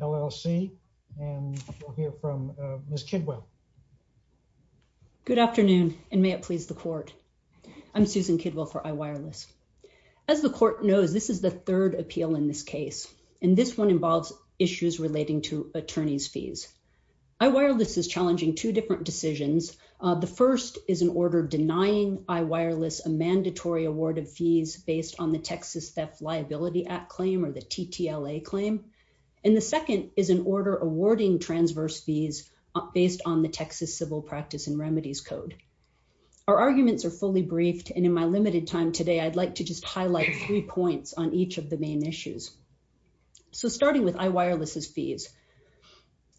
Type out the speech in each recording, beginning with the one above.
L.L.C., and we'll hear from Ms. Kidwell. Good afternoon, and may it please the court. I'm Susan Kidwell for iWireless. As the court knows, this is the third appeal in this case, and this one involves issues relating to attorney's fees. iWireless is challenging two different decisions. The first is an order denying iWireless a mandatory award of fees based on the Texas Theft Liability Act claim, or the TTLA claim, and the second is an order awarding transverse fees based on the Texas Civil Practice and Remedies Code. Our arguments are fully briefed, and in my limited time today, I'd like to just highlight three points on each of the main issues. So starting with iWireless's fees,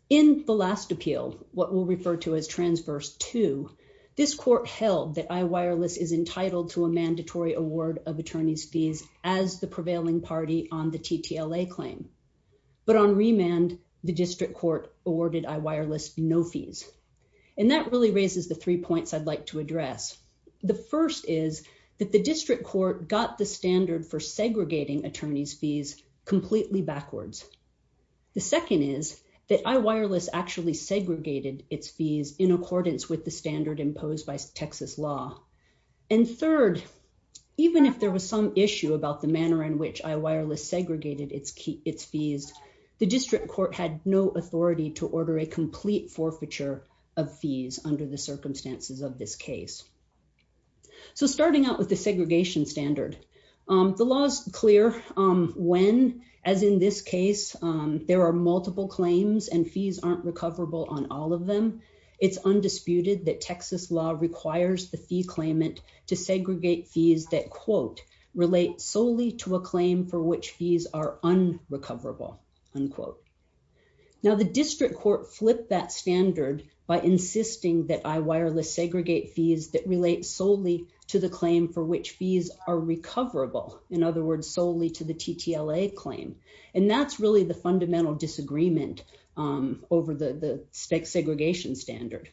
in the last appeal, what we'll refer to as Transverse 2, this court held that iWireless is entitled to a mandatory award of attorney's fees as the prevailing party on the TTLA claim, but on remand, the district court awarded iWireless no fees, and that really raises the three points I'd like to address. The first is that the district court got the standard for segregating attorney's fees completely backwards. The second is that iWireless actually segregated its fees in accordance with the standard imposed by Texas law, and third, even if there was some issue about the manner in which iWireless segregated its fees, the district court had no authority to order a complete forfeiture of fees under the circumstances of this case. So starting out with the segregation standard, the law is clear when, as in this case, there are multiple claims and fees aren't recoverable on all of them, it's undisputed that Texas law requires the fee claimant to segregate fees that, quote, relate solely to a claim for which fees are unrecoverable, unquote. Now, the district court flipped that standard by insisting that iWireless segregate fees that relate solely to the claim for which fees are recoverable, in other words, solely to the TTLA claim, and that's really the fundamental disagreement over the segregation standard.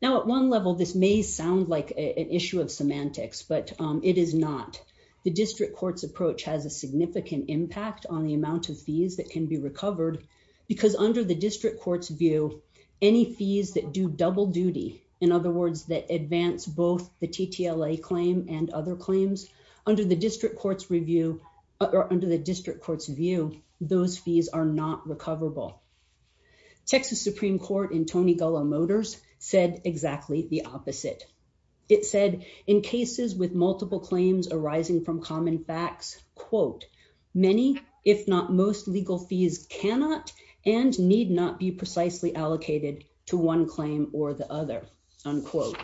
Now, at one level, this may sound like an issue of semantics, but it is not. The district court's approach has a significant impact on the amount of fees that can be recovered because under the district court's view, any fees that do double duty, in other words, that advance both the TTLA claim and other claims, under the district court's review, under the district court's view, those fees are not recoverable. Texas Supreme Court in Tony Gullah Motors said exactly the opposite. It said, in cases with multiple claims arising from common facts, quote, many, if not most, legal fees cannot and need not be precisely allocated to one claim or the other, unquote.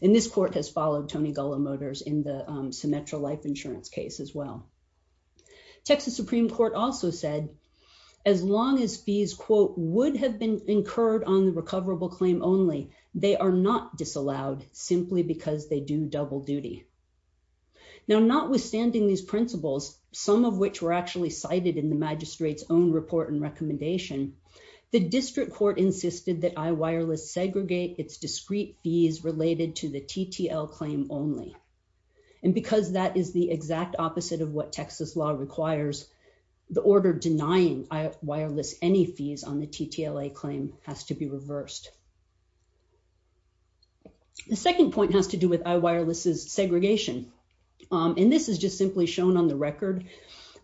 And this court has followed Tony Gullah Motors in the Symetra life insurance case as well. Texas Supreme Court also said, as long as fees, quote, would have been incurred on the simply because they do double duty. Now, notwithstanding these principles, some of which were actually cited in the magistrate's own report and recommendation, the district court insisted that iWireless segregate its discrete fees related to the TTL claim only. And because that is the exact opposite of what Texas law requires, the order denying iWireless any fees on the TTLA claim has to be reversed. The second point has to do with iWireless's segregation. And this is just simply shown on the record.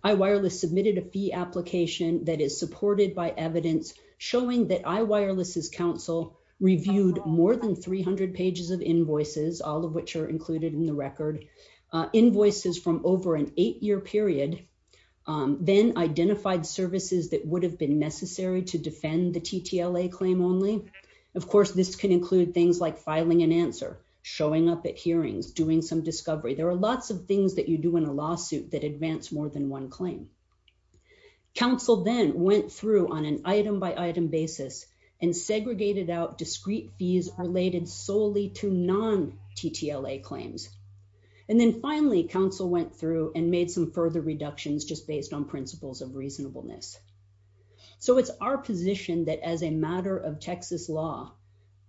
iWireless submitted a fee application that is supported by evidence showing that iWireless's counsel reviewed more than 300 pages of invoices, all of which are included in the record. Invoices from over an eight-year period then identified services that would have been necessary to defend the TTLA claim only. Of course, this can include things like filing an answer, showing up at hearings, doing some discovery. There are lots of things that you do in a lawsuit that advance more than one claim. Counsel then went through on an item-by-item basis and segregated out discrete fees related solely to non-TTLA claims. And then finally, counsel went through and made some further reductions just based on principles of reasonableness. So, it's our position that as a matter of Texas law,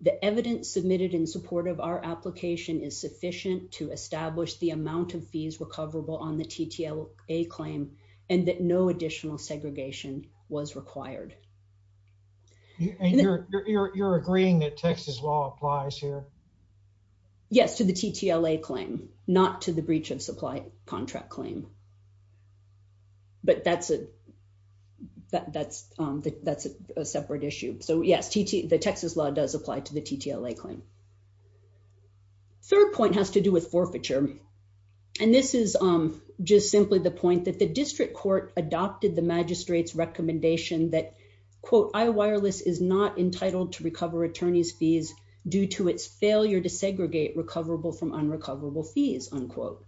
the evidence submitted in support of our application is sufficient to establish the amount of fees recoverable on the TTLA claim and that no additional segregation was required. And you're agreeing that Texas law applies here? Yes, to the TTLA claim, not to the breach of supply contract claim. But that's a separate issue. So, yes, the Texas law does apply to the TTLA claim. Third point has to do with forfeiture. And this is just simply the point that the district court adopted the magistrate's recommendation that, quote, I-Wireless is not entitled to recover attorney's fees due to its failure to segregate recoverable from unrecoverable fees, unquote.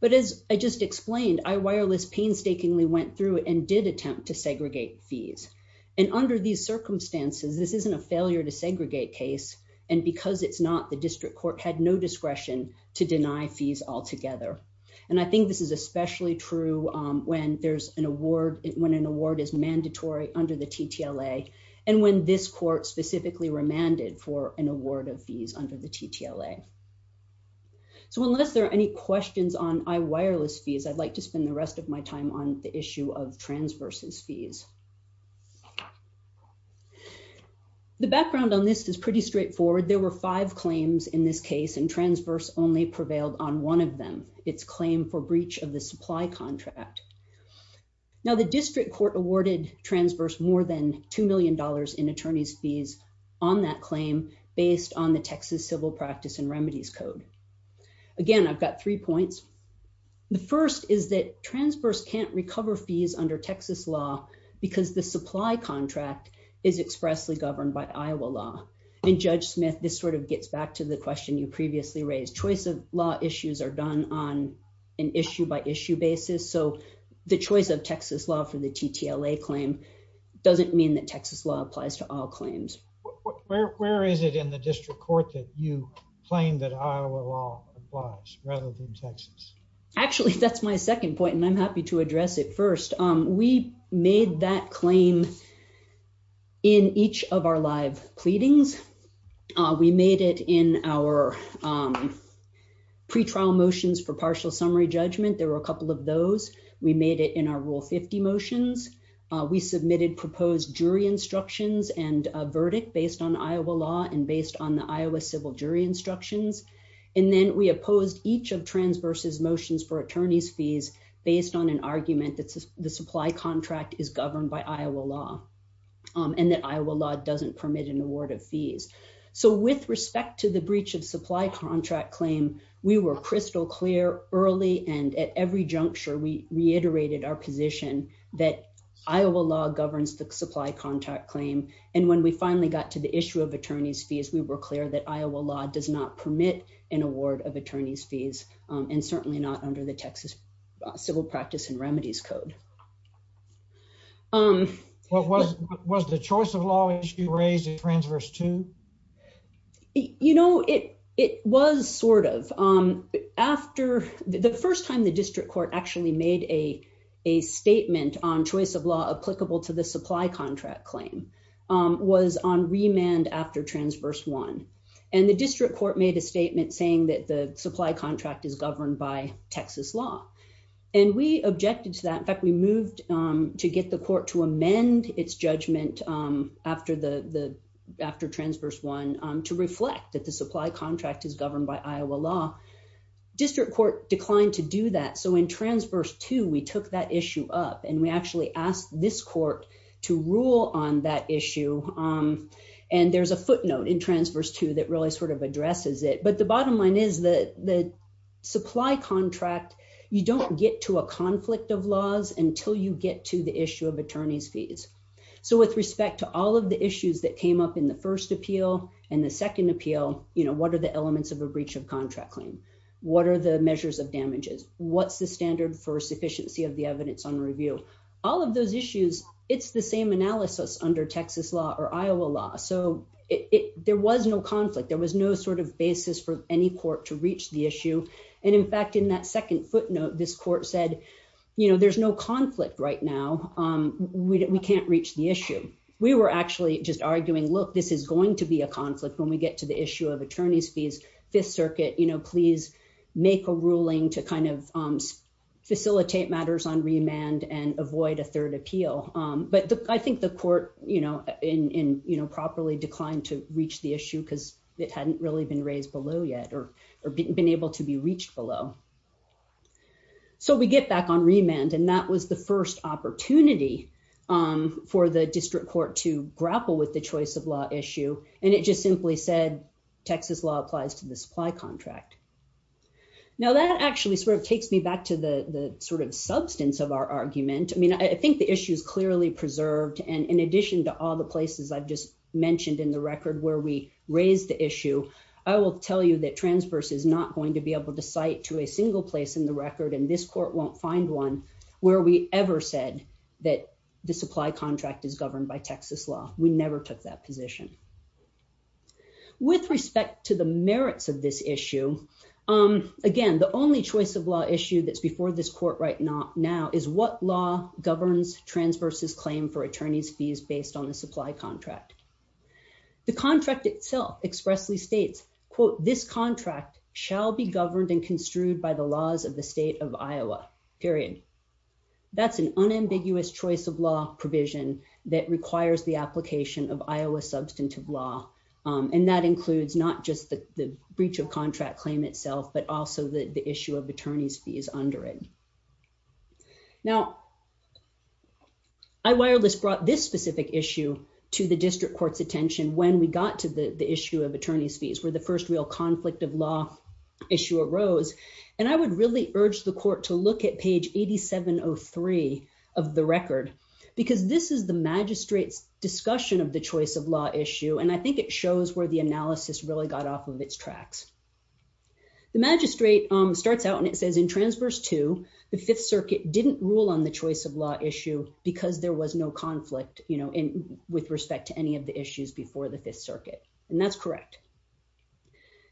But as I just explained, I-Wireless painstakingly went through and did attempt to segregate fees. And under these circumstances, this isn't a failure to segregate case. And because it's not, the district court had no discretion to deny fees altogether. And I think this is especially true when there's an award, when an award is mandatory under the TTLA and when this court specifically remanded for an award of fees under the TTLA. So unless there are any questions on I-Wireless fees, I'd like to spend the rest of my time on the issue of transverse's fees. The background on this is pretty straightforward. There were five claims in this case, and transverse only prevailed on one of them, its claim for breach of the supply contract. Now, the district court awarded transverse more than $2 million in attorney's fees on that claim based on the Texas Civil Practice and Remedies Code. Again, I've got three points. The first is that transverse can't recover fees under Texas law because the supply contract is expressly governed by Iowa law. And Judge Smith, this sort of gets back to the question you previously raised. Choice of law issues are done on an issue by issue basis. So the choice of Texas law for the TTLA claim doesn't mean that Texas law applies to all claims. Where is it in the district court that you claim that Iowa law applies rather than Texas? Actually, that's my second point, and I'm happy to address it first. We made that claim in each of our live pleadings. We made it in our pre-trial motions for partial summary judgment. There were a couple of those. We made it in our Rule 50 motions. We submitted proposed jury instructions and a verdict based on Iowa law and based on the Iowa civil jury instructions. And then we opposed each of transverse's motions for attorney's fees based on an argument that the supply contract is governed by Iowa law and that Iowa law doesn't permit an award of fees. So with respect to the breach of supply contract claim, we were crystal clear early and at every juncture, we reiterated our position that Iowa law governs the supply contract claim. And when we finally got to the issue of attorney's fees, we were clear that Iowa law does not permit an award of attorney's fees and certainly not under the Texas Civil Practice and Remedies Code. Was the choice of law issue raised in transverse two? You know, it was sort of. After the first time the district court actually made a statement on choice of law applicable to the supply contract claim was on remand after transverse one. And the district court made a statement saying that the supply contract is governed by Texas law. And we objected to that. In fact, we moved to get the court to amend its judgment after transverse one to reflect that the supply contract is governed by Iowa law. District court declined to do that. So in transverse two, we took that issue up and we actually asked this court to rule on that issue. And there's a footnote in transverse two that really sort of addresses it. But the bottom line is that the supply contract, you don't get to a conflict of laws until you get to the issue of attorney's fees. So with respect to all of the issues that came up in the first appeal and the second appeal, you know, what are the elements of a breach of contract claim? What are the measures of damages? What's the standard for sufficiency of the evidence on review? All of those issues, it's the same analysis under Texas law or Iowa law. So there was no conflict. There was no sort of basis for any court to reach the issue. And in fact, in that second footnote, this court said, you know, there's no conflict right now. We can't reach the issue. We were actually just arguing, look, this is going to be a conflict when we get to the issue of attorney's fees. Fifth Circuit, you know, please make a ruling to kind of facilitate matters on remand and avoid a third appeal. But I think the court, you know, properly declined to reach the issue because it hadn't really been raised below yet or been able to be reached below. So we get back on remand, and that was the first opportunity for the district court to grapple with the choice of law issue. And it just simply said, Texas law applies to the supply contract. Now, that actually sort of takes me back to the sort of substance of our argument. I mean, I think the issue is clearly preserved. And in addition to all the places I've just mentioned in the record where we raised the issue, I will tell you that Transverse is not going to be able to cite to a third appeal a single place in the record, and this court won't find one where we ever said that the supply contract is governed by Texas law. We never took that position. With respect to the merits of this issue, again, the only choice of law issue that's before this court right now is what law governs Transverse's claim for attorney's fees based on the supply contract. The contract itself expressly states, quote, this contract shall be governed and construed by the laws of the state of Iowa, period. That's an unambiguous choice of law provision that requires the application of Iowa substantive law, and that includes not just the breach of contract claim itself, but also the issue of attorney's fees under it. Now, iWireless brought this specific issue to the district court's attention when we got to the issue of attorney's fees, where the first real conflict of law issue arose. And I would really urge the court to look at page 8703 of the record, because this is the magistrate's discussion of the choice of law issue, and I think it shows where the analysis really got off of its tracks. The magistrate starts out and it says, in Transverse 2, the Fifth Circuit didn't rule on the choice of law issue because there was no conflict, you know, with respect to any of the issues before the Fifth Circuit, and that's correct.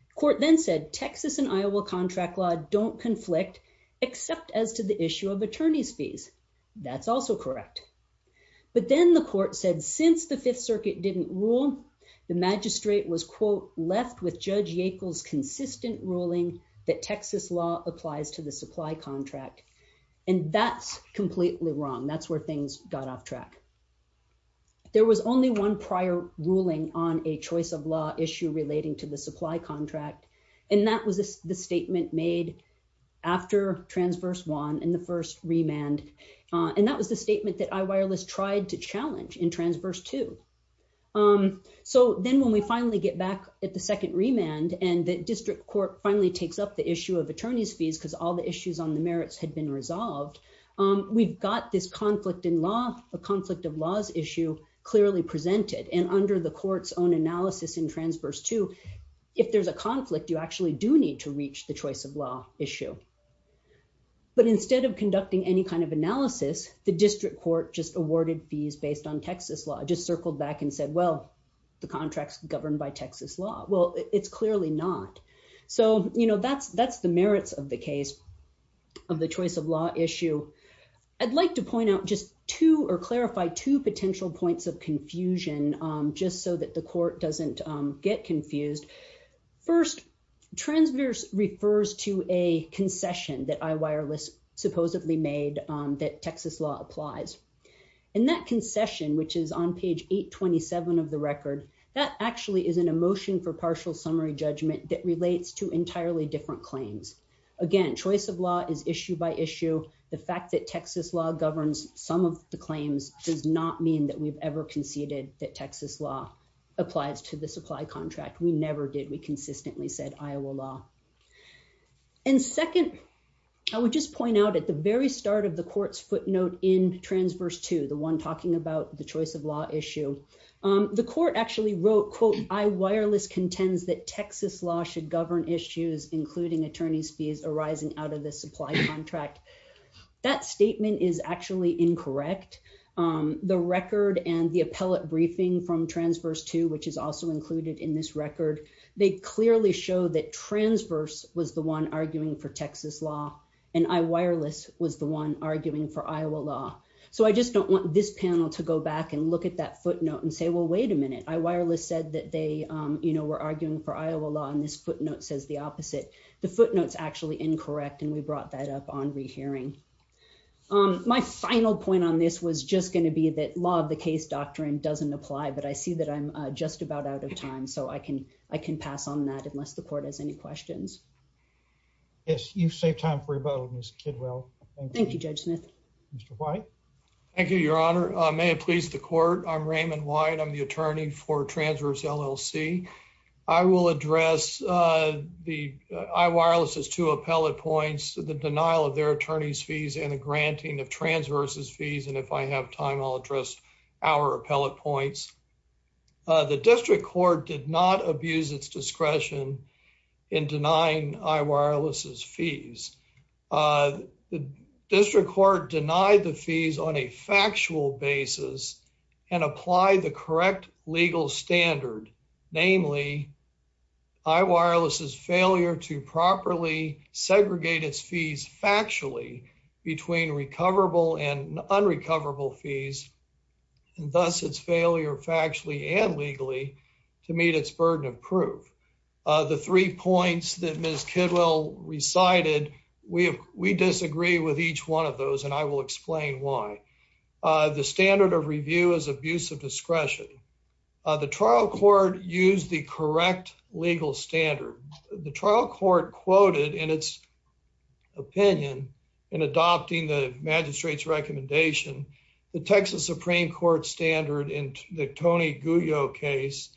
The court then said, Texas and Iowa contract law don't conflict, except as to the issue of attorney's fees. That's also correct. But then the court said, since the Fifth Circuit didn't rule, the magistrate was, quote, left with Judge Yackel's consistent ruling that Texas law applies to the supply contract, and that's completely wrong. That's where things got off track. There was only one prior ruling on a choice of law issue relating to the supply contract, and that was the statement made after Transverse 1 and the first remand, and that was the statement that iWireless tried to challenge in Transverse 2. Um, so then when we finally get back at the second remand and the district court finally takes up the issue of attorney's fees because all the issues on the merits had been resolved, we've got this conflict in law, a conflict of laws issue clearly presented, and under the court's own analysis in Transverse 2, if there's a conflict, you actually do need to reach the choice of law issue. But instead of conducting any kind of analysis, the district court just awarded fees based on Texas law, just circled back and said, well, the contract's governed by Texas law. Well, it's clearly not. So, you know, that's the merits of the case of the choice of law issue. I'd like to point out just two or clarify two potential points of confusion, um, just so that the court doesn't, um, get confused. First, Transverse refers to a concession that iWireless supposedly made, um, that Texas law applies. And that concession, which is on page 827 of the record, that actually is an emotion for partial summary judgment that relates to entirely different claims. Again, choice of law is issue by issue. The fact that Texas law governs some of the claims does not mean that we've ever conceded that Texas law applies to the supply contract. We never did. We consistently said Iowa law. Um, and second, I would just point out at the very start of the court's footnote in Transverse 2, the one talking about the choice of law issue, um, the court actually wrote, quote, iWireless contends that Texas law should govern issues, including attorney's fees arising out of the supply contract. That statement is actually incorrect. Um, the record and the appellate briefing from Transverse 2, which is also included in this record, they clearly show that Transverse was the one arguing for Texas law, and iWireless was the one arguing for Iowa law. So I just don't want this panel to go back and look at that footnote and say, well, wait a minute, iWireless said that they, um, you know, were arguing for Iowa law, and this footnote says the opposite. The footnote's actually incorrect, and we brought that up on rehearing. Um, my final point on this was just going to be that law of the case doctrine doesn't apply, but I see that I'm just about out of time, so I can pass on that unless the court has any questions. Yes, you've saved time for your vote, Ms. Kidwell. Thank you, Judge Smith. Mr. White. Thank you, Your Honor. May it please the court. I'm Raymond White. I'm the attorney for Transverse LLC. I will address, uh, the iWireless's two appellate points, the denial of their attorney's fees and the granting of Transverse's fees, and if I have time, I'll address our appellate points. The district court did not abuse its discretion in denying iWireless's fees. The district court denied the fees on a factual basis and applied the correct legal standard, namely, iWireless's failure to properly segregate its fees factually between recoverable and unrecoverable fees, and thus its failure factually and legally to meet its burden of proof. The three points that Ms. Kidwell recited, we disagree with each one of those, and I will explain why. The standard of review is abuse of discretion. The trial court used the correct legal standard. The trial court quoted, in its opinion, in adopting the magistrate's recommendation, the Texas Supreme Court standard in the Tony Guyot case,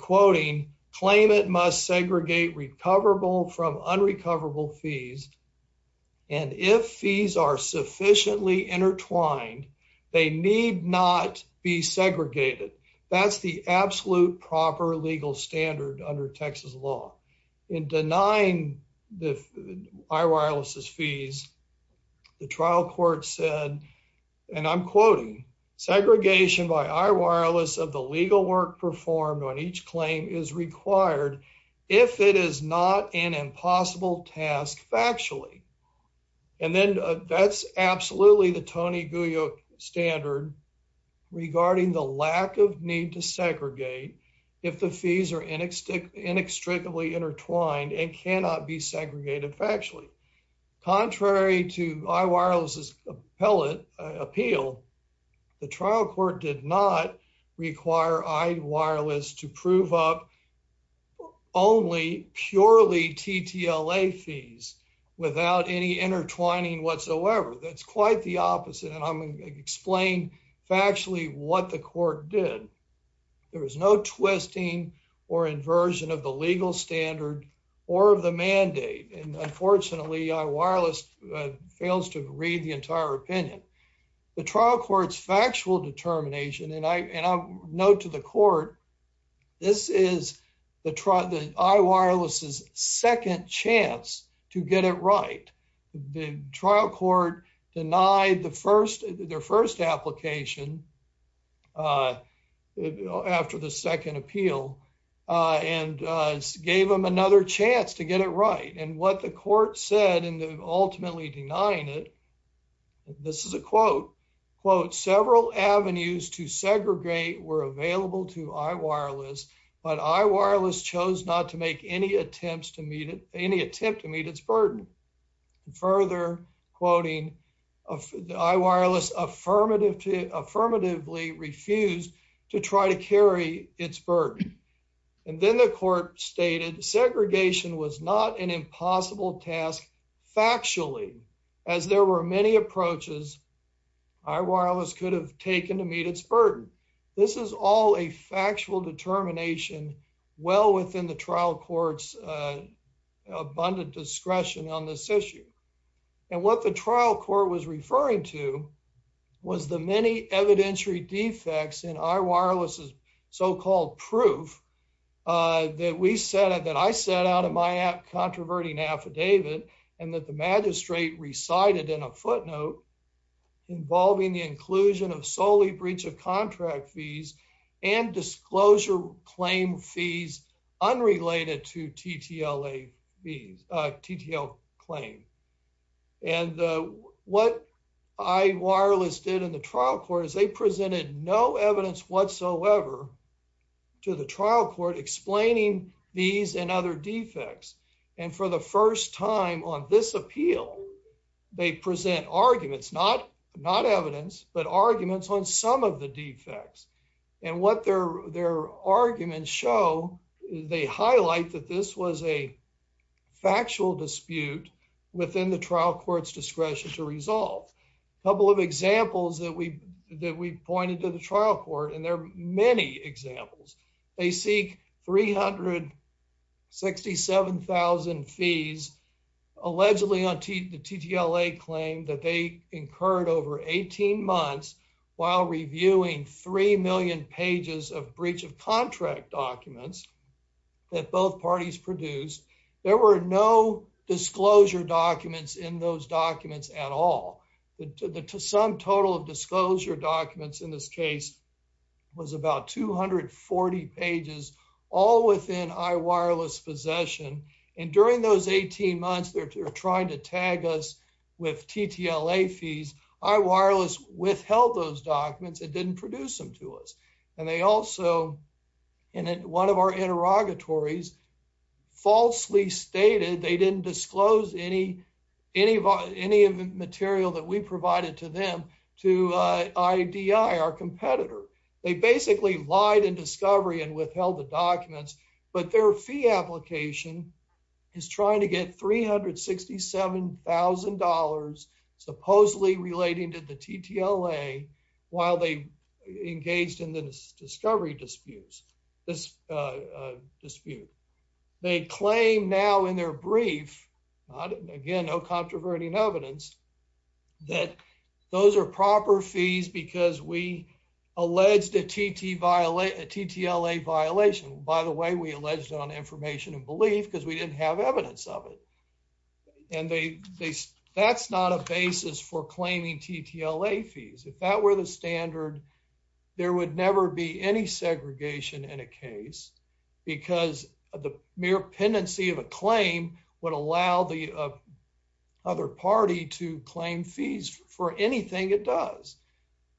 quoting, claim it must segregate recoverable from unrecoverable fees, and if fees are sufficiently intertwined, they need not be segregated. That's the absolute proper legal standard under Texas law. In denying iWireless's fees, the trial court said, and I'm quoting, segregation by iWireless of the legal work performed on each claim is required if it is not an impossible task factually. And then that's absolutely the Tony Guyot standard regarding the lack of need to segregate if the fees are inextricably intertwined and cannot be segregated factually. Contrary to iWireless's appeal, the trial court did not require iWireless to prove up only purely TTLA fees without any intertwining whatsoever. That's quite the opposite. And I'm going to explain factually what the court did. There was no twisting or inversion of the legal standard or of the mandate. And unfortunately, iWireless fails to read the entire opinion. The trial court's factual determination, and I note to the court, this is iWireless's second chance to get it right. The trial court denied their first application after the second appeal and gave them another chance to get it right. And what the court said in ultimately denying it, this is a quote, quote, several avenues to segregate were available to iWireless, but iWireless chose not to make any attempts to meet it, any attempt to meet its burden. Further quoting, iWireless affirmatively refused to try to carry its burden. And then the court stated segregation was not an impossible task factually, as there were many approaches iWireless could have taken to meet its burden. This is all a factual determination well within the trial court's abundant discretion on this issue. And what the trial court was referring to was the many evidentiary defects in iWireless's proof that I set out in my app, Controverting Affidavit, and that the magistrate recited in a footnote involving the inclusion of solely breach of contract fees and disclosure claim fees unrelated to TTL claim. And what iWireless did in the trial court is they presented no evidence whatsoever to the trial court explaining these and other defects. And for the first time on this appeal, they present arguments, not evidence, but arguments on some of the defects. And what their arguments show, they highlight that this was a factual dispute within the trial court's discretion to resolve. A couple of examples that we pointed to the trial court, and there are many examples. They seek 367,000 fees allegedly on the TTLA claim that they incurred over 18 months while reviewing 3 million pages of breach of contract documents that both parties produced. There were no disclosure documents in those documents at all. Some total of disclosure documents in this case was about 240 pages, all within iWireless possession. And during those 18 months, they're trying to tag us with TTLA fees. iWireless withheld those documents. It didn't produce them to us. And they also, in one of our interrogatories, falsely stated they didn't disclose any material that we provided to them to IDI, our competitor. They basically lied in discovery and withheld the documents, but their fee application is trying to get $367,000 supposedly relating to the TTLA while they engaged in the discovery disputes, this dispute. They claim now in their brief, again, no controverting evidence, that those are proper fees because we alleged a TTLA violation. By the way, we alleged it on information and belief because we didn't have evidence of it. And that's not a basis for claiming TTLA fees. If that were the standard, there would never be any segregation in a case because the mere pendency of a claim would allow the other party to claim fees for anything it does.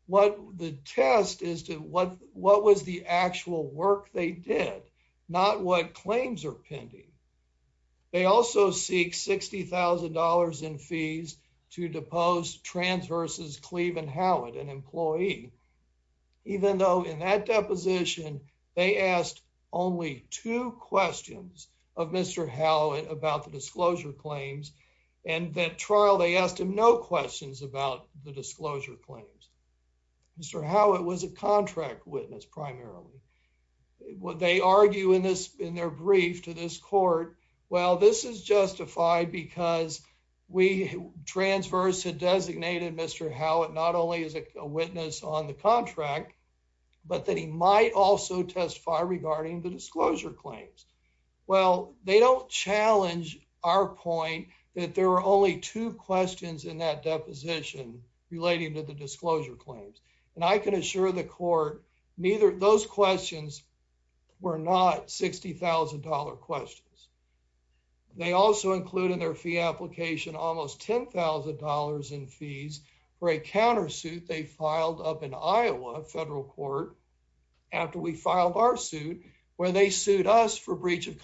What the test is to what was the actual work they did, not what claims are pending. They also seek $60,000 in fees to depose Trans v. Cleveland Howitt, an employee, even though in that deposition they asked only two questions of Mr. Howitt about the disclosure claims and that trial they asked him no questions about the disclosure claims. Mr. Howitt was a contract witness primarily. They argue in their brief to this court, well, this is justified because Trans v. had designated Mr. Howitt not only as a witness on the contract, but that he might also testify regarding the disclosure claims. Well, they don't challenge our point that there are only two questions in that deposition relating to the disclosure claims. And I can assure the court, those questions were not $60,000 questions. They also include in their fee application almost $10,000 in fees for a countersuit they of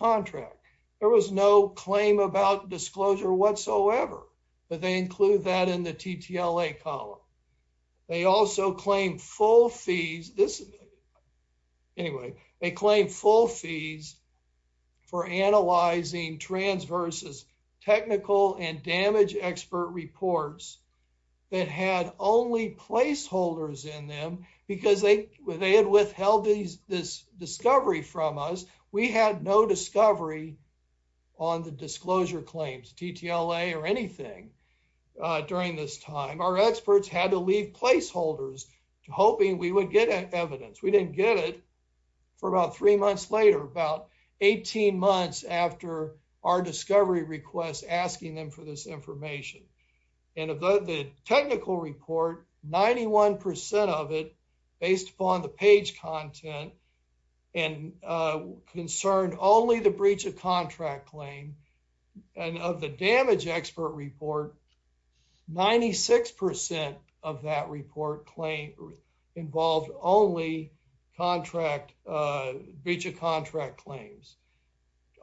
contract. There was no claim about disclosure whatsoever. But they include that in the TTLA column. They also claim full fees. Anyway, they claim full fees for analyzing Trans v. technical and damage expert reports that had only placeholders in them because they had withheld this discovery from us. We had no discovery on the disclosure claims, TTLA or anything during this time. Our experts had to leave placeholders hoping we would get evidence. We didn't get it for about three months later, about 18 months after our discovery request asking them for this information. And of the technical report, 91% of it based upon the page content and concerned only the breach of contract claim. And of the damage expert report, 96% of that report claim involved only contract, breach of contract claims.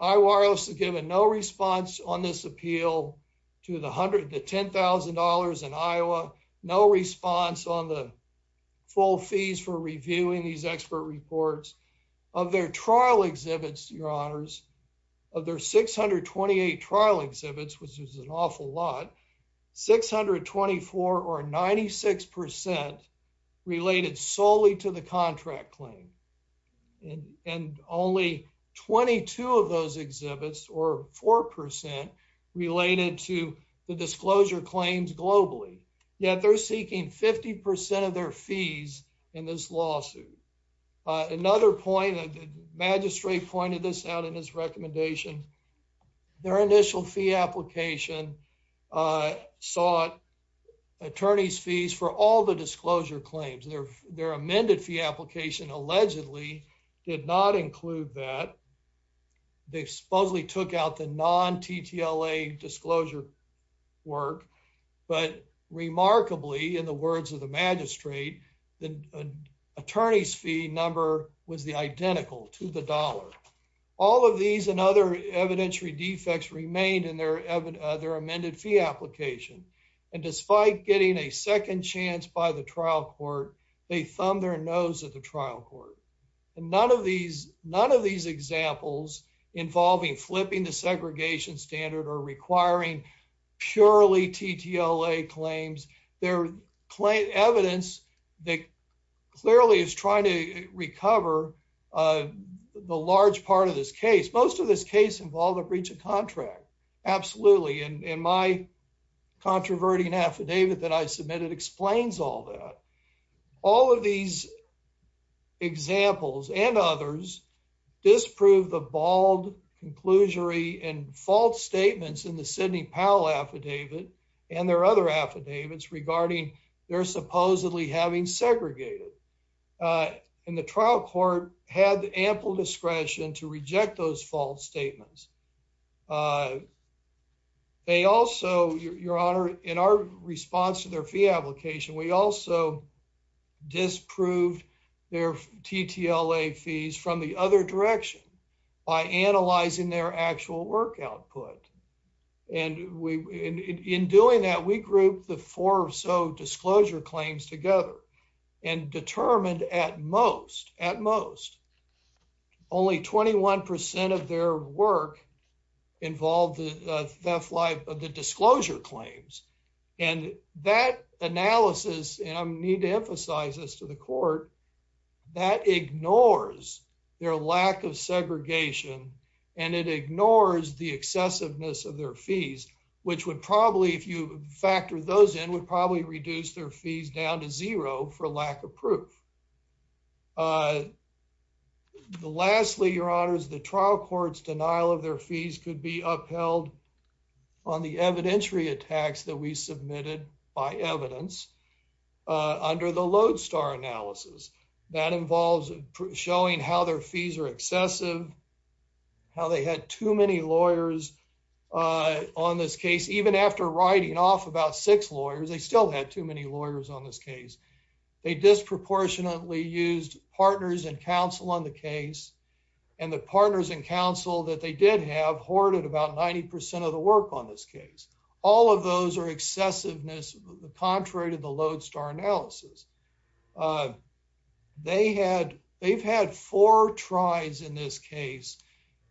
Iowa IRS has given no response on this appeal to the $10,000 in Iowa. No response on the full fees for reviewing these expert reports. Of their trial exhibits, your honors, of their 628 trial exhibits, which is an awful lot, 624 or 96% related solely to the contract claim. And only 22 of those exhibits or 4% related to the disclosure claims globally. Yet they're seeking 50% of their fees in this lawsuit. Another point, the magistrate pointed this out in his recommendation, their initial fee application sought attorney's fees for all the disclosure claims. Their amended fee application allegedly did not include that. They supposedly took out the non-TTLA disclosure work. But remarkably, in the words of the magistrate, the attorney's fee number was the identical to the dollar. All of these and other evidentiary defects remained in their amended fee application. And despite getting a second chance by the trial court, they thumbed their nose at the trial court. And none of these examples involving flipping the segregation standard or requiring purely TTLA claims. They're evidence that clearly is trying to recover the large part of this case. Most of this case involved a breach of contract. Absolutely. And my controverting affidavit that I submitted explains all that. All of these examples and others disprove the bald conclusory and false statements in the Sidney Powell affidavit and their other affidavits regarding their supposedly having segregated. And the trial court had ample discretion to reject those false statements. They also, Your Honor, in our response to their fee application, we also disproved their TTLA fees from the other direction by analyzing their actual work output. And in doing that, we grouped the four or so disclosure claims together and determined at most, at most, only 21% of their work involved the disclosure claims. And that analysis, and I need to emphasize this to the court, that ignores their lack of segregation and it ignores the excessiveness of their fees, which would probably, if you factor those in, would probably reduce their fees down to zero for lack of proof. Uh, lastly, Your Honors, the trial court's denial of their fees could be upheld on the evidentiary attacks that we submitted by evidence under the Lodestar analysis. That involves showing how their fees are excessive, how they had too many lawyers on this case. Even after writing off about six lawyers, they still had too many lawyers on this case. They disproportionately used partners and counsel on the case, and the partners and counsel that they did have hoarded about 90% of the work on this case. All of those are excessiveness contrary to the Lodestar analysis. They had, they've had four tries in this case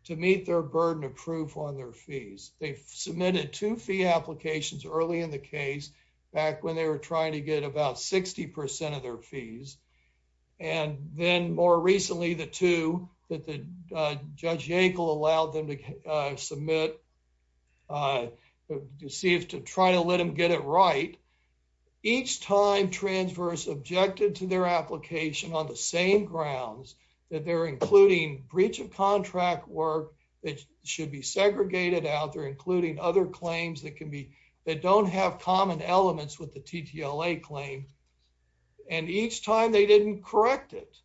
to meet their burden of proof on their fees. They've submitted two fee applications early in the case back when they were trying to about 60% of their fees. And then more recently, the two that the Judge Yackel allowed them to submit to see if to try to let them get it right. Each time transverse objected to their application on the same grounds that they're including breach of contract work that should be segregated out there, including other claims that can that don't have common elements with the TTLA claim. And each time they didn't correct it,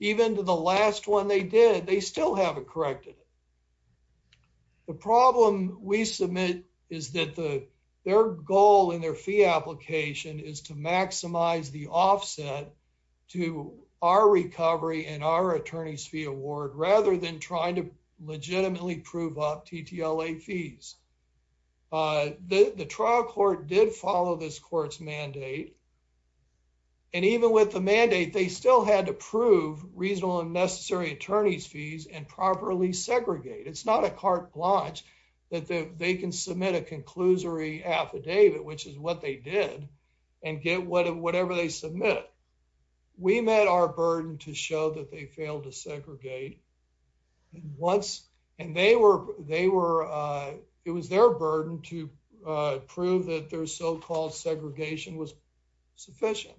even to the last one they did, they still haven't corrected it. The problem we submit is that the, their goal in their fee application is to maximize the offset to our recovery and our attorney's fee award, rather than trying to legitimately prove up TTLA fees. Uh, the, the trial court did follow this court's mandate. And even with the mandate, they still had to prove reasonable and necessary attorney's fees and properly segregate. It's not a carte blanche that they can submit a conclusory affidavit, which is what they did and get whatever they submit. We met our burden to show that they failed to segregate. Once, and they were, they were, uh, it was their burden to, uh, prove that their so-called segregation was sufficient.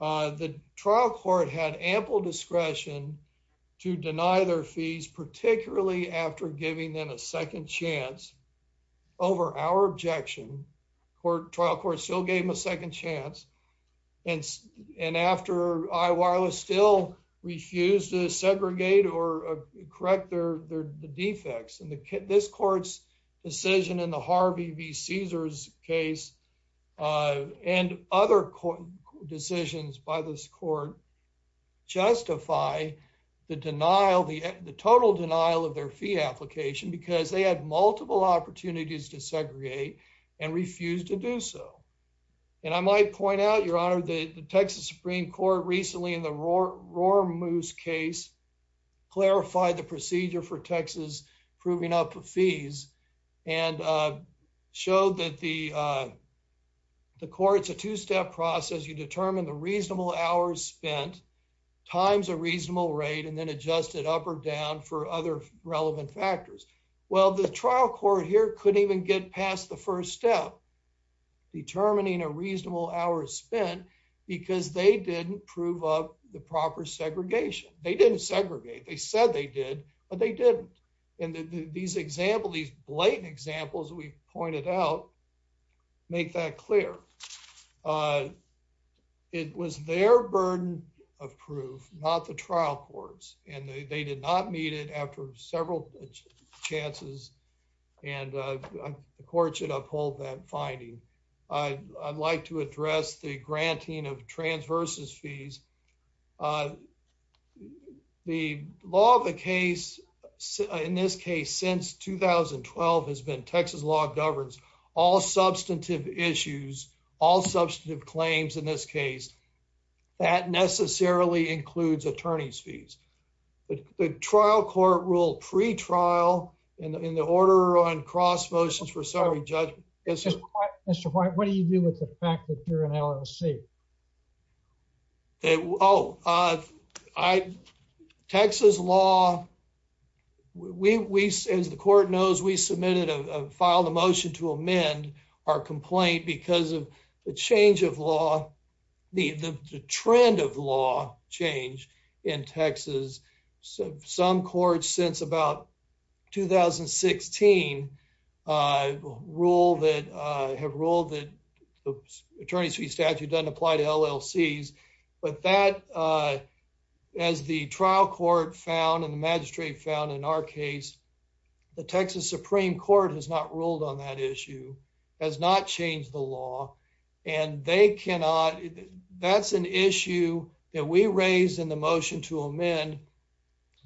Uh, the trial court had ample discretion to deny their fees, particularly after giving them a second chance over our objection court trial court still gave him a second chance. And, and after I wireless still refused to segregate or correct their, their, the defects and the kit, this court's decision in the Harvey V. Caesar's case, uh, and other court decisions by this court justify the denial, the, the total denial of their fee application, because they had multiple opportunities to segregate and refuse to do so. And I might point out your honor, the Texas Supreme court recently in the roar, roar moose case, clarify the procedure for Texas proving up fees and, uh, showed that the, uh, the court's a two-step process. You determine the reasonable hours spent times, a reasonable rate, and then adjust it up or down for other relevant factors. Well, the trial court here couldn't even get past the first step determining a reasonable hour spent because they didn't prove up the proper segregation. They didn't segregate. They said they did, but they didn't. And these examples, these blatant examples, we pointed out, make that clear. Uh, it was their burden of proof, not the trial courts. And they did not meet it after several chances. And, uh, the court should uphold that finding. I'd like to address the granting of transverses fees. Uh, the law of the case in this case, since 2012 has been Texas law governs all substantive issues, all substantive claims. In this case, that necessarily includes attorney's fees, but the trial court rule pre-trial in the order on cross motions for summary judgment. Mr. White, what do you do with the fact that you're an LLC? Oh, uh, I, Texas law, we, we, as the court knows, we submitted a file, the motion to the trend of law change in Texas. Some courts since about 2016, uh, rule that, uh, have ruled that attorney's fee statute doesn't apply to LLCs, but that, uh, as the trial court found and the magistrate found in our case, the Texas Supreme Court has not ruled on that issue, has not changed the law and they cannot, that's an issue that we raised in the motion to amend.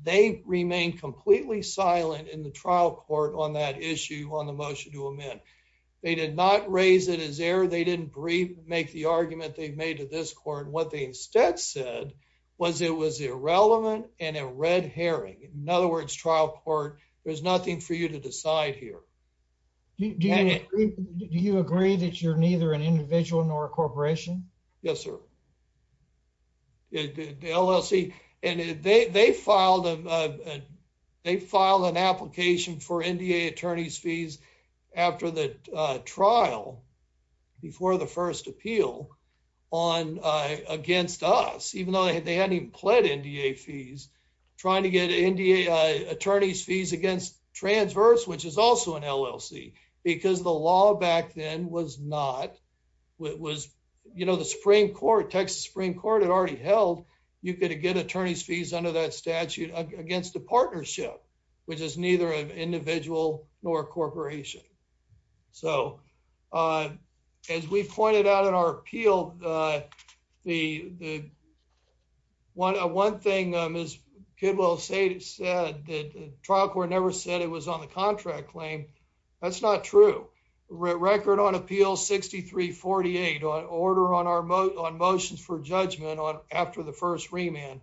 They remain completely silent in the trial court on that issue on the motion to amend. They did not raise it as error. They didn't breathe, make the argument they've made to this court. What they instead said was it was irrelevant and a red herring. In other words, trial court, there's nothing for you to decide here. Do you agree that you're neither an individual nor a corporation? Yes, sir. The LLC and they, they filed, uh, they filed an application for NDA attorney's fees after the trial before the first appeal on, uh, against us, even though they hadn't even pled NDA fees, trying to get NDA attorney's fees against transverse, which is also an LLC because the law back then was not, it was, you know, the Supreme Court, Texas Supreme Court had already held. You could get attorney's fees under that statute against the partnership, which is neither an individual nor a corporation. So, uh, as we pointed out in our appeal, uh, the, the one, one thing is good. Well, say it said that trial court never said it was on the contract claim. That's not true. Record on appeal 6348 on order on our moat on motions for judgment on after the first remand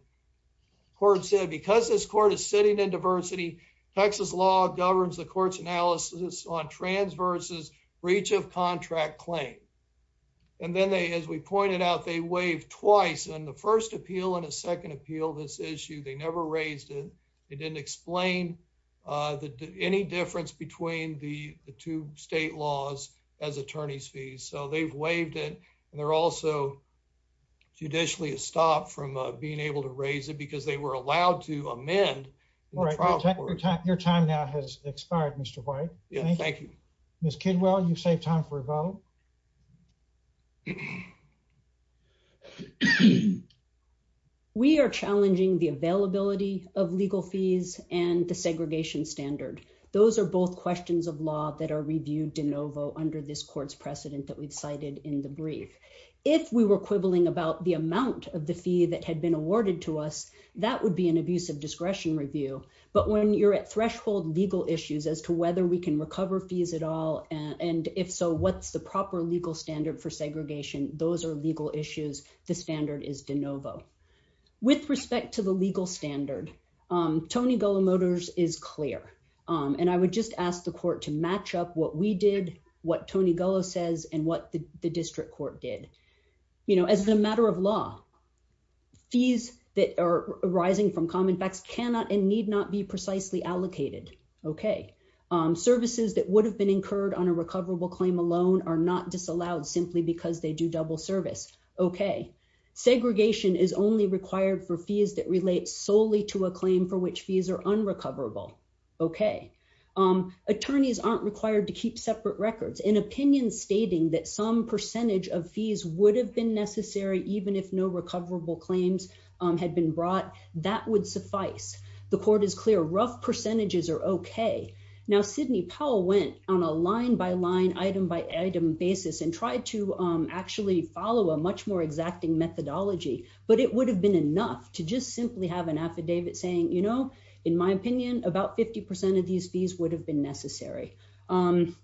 court said, because this court is sitting in diversity, Texas law governs the court's analysis on transverses, breach of contract claim. And then they, as we pointed out, they waived twice and the first appeal and a second appeal, this issue, they never raised it. They didn't explain, uh, the, any difference between the two state laws as attorney's fees. So they've waived it. And they're also judicially a stop from being able to raise it because they were allowed to amend. All right. Your time now has expired. Mr. White. Yeah. Thank you. Ms. Kidwell, you save time for a vote. We are challenging the availability of legal fees and the segregation standard. Those are both questions of law that are reviewed de novo under this court's precedent that we've cited in the brief. If we were quibbling about the amount of the fee that had been awarded to us, that would be an abuse of discretion review. But when you're at threshold legal issues as to whether we can recover fees at all and if so, what's the proper legal standard for segregation? Those are legal issues. The standard is de novo. With respect to the legal standard, um, Tony Gullah Motors is clear. And I would just ask the court to match up what we did, what Tony Gullah says, and what the district court did. You know, as a matter of law, fees that are arising from common facts cannot and need not be precisely allocated. Okay. Services that would have been incurred on a recoverable claim alone are not disallowed simply because they do double service. Okay. Segregation is only required for fees that relate solely to a claim for which fees are unrecoverable. Okay. Attorneys aren't required to keep separate records. An opinion stating that some percentage of fees would have been necessary, even if no recoverable claims had been brought, that would suffice. The court is clear. Rough percentages are okay. Now, Sidney Powell went on a line by line, item by item basis and tried to actually follow a much more exacting methodology. But it would have been enough to just simply have an affidavit saying, you know, in my opinion, about 50% of these fees would have been necessary. Um,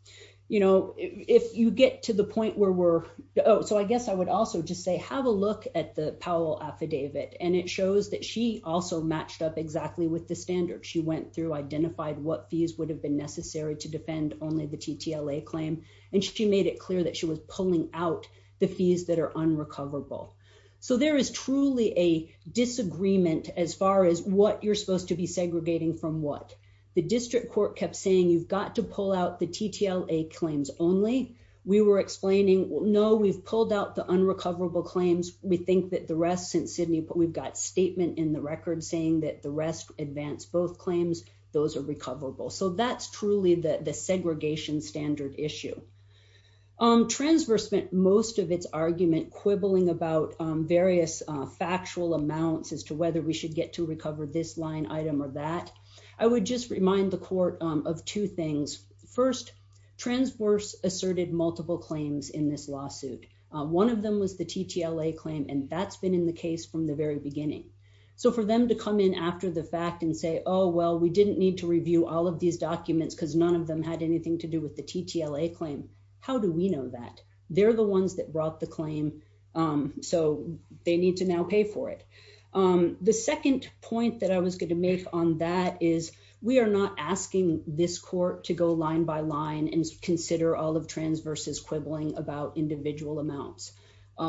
you know, if you get to the point where we're, oh, so I guess I would also just say, have a look at the Powell affidavit. And it shows that she also matched up exactly with the standard. She went through, identified what fees would have been necessary to defend only the TTLA claim. And she made it clear that she was pulling out the fees that are unrecoverable. So there is truly a disagreement as far as what you're supposed to be segregating from what. The district court kept saying, you've got to pull out the TTLA claims only. We were explaining, no, we've pulled out the unrecoverable claims. We think that the rest since Sydney, but we've got statement in the record saying that the rest advanced both claims. Those are recoverable. So that's truly the segregation standard issue. Um, transverse spent most of its argument quibbling about various factual amounts as to whether we should get to recover this line item or that. I would just remind the court of two things. First transverse asserted multiple claims in this lawsuit. One of them was the TTLA claim, and that's been in the case from the very beginning. So for them to come in after the fact and say, oh, well, we didn't need to review all of these documents because none of them had anything to do with the TTLA claim. How do we know that they're the ones that brought the claim? So they need to now pay for it. The second point that I was going to make on that is we are not asking this court to go line by line and consider all of transverse is quibbling about individual amounts.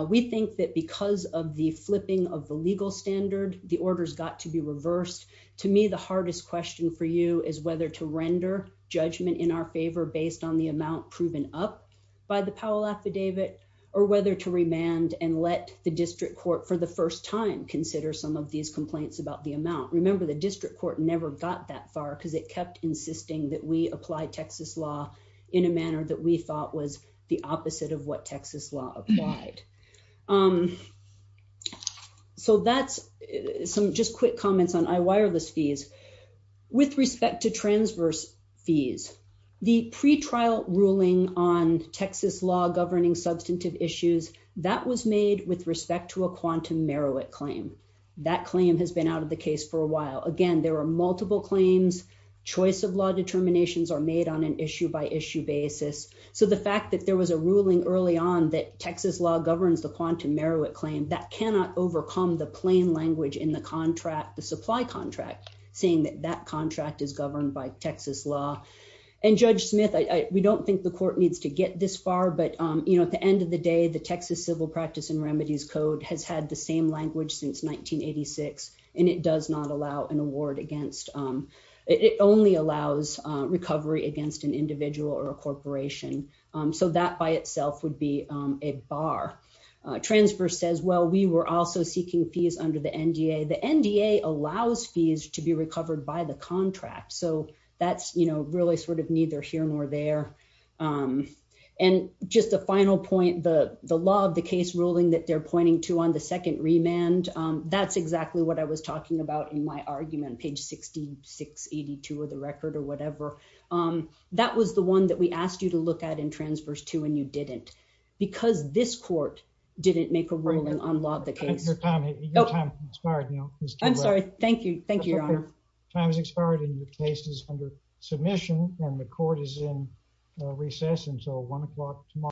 We think that because of the flipping of the legal standard, the orders got to be reversed. To me, the hardest question for you is whether to render judgment in our favor based on the amount proven up by the Powell affidavit or whether to remand and let the district court for the first time consider some of these complaints about the amount. Remember, the district court never got that far because it kept insisting that we apply Texas law in a manner that we thought was the opposite of what Texas law applied. So that's some just quick comments on I-wireless fees. With respect to transverse fees, the pretrial ruling on Texas law governing substantive issues, that was made with respect to a quantum merit claim. That claim has been out of the case for a while. Again, there are multiple claims. Choice of law determinations are made on an issue by issue basis. So the fact that there was a ruling early on that Texas law governs the quantum merit claim, that cannot overcome the plain language in the contract, the supply contract, saying that that contract is governed by Texas law. And Judge Smith, we don't think the court needs to get this far. But at the end of the day, the Texas Civil Practice and Remedies Code has had the same language since 1986. And it does not allow an award against, it only allows recovery against an individual or a corporation. So that by itself would be a bar. Transverse says, well, we were also seeking fees under the NDA. The NDA allows fees to be recovered by the contract. So that's really sort of neither here nor there. And just a final point, the law of the case ruling that they're pointing to on the second remand, that's exactly what I was talking about in my argument, page 6682 of the record or whatever. That was the one that we asked you to look at in Transverse too, and you didn't. Because this court didn't make a ruling on law of the case. Your time expired now. I'm sorry. Thank you. Thank you, Your Honor. Time has expired and your case is under submission and the court is in recess until 1 o'clock tomorrow.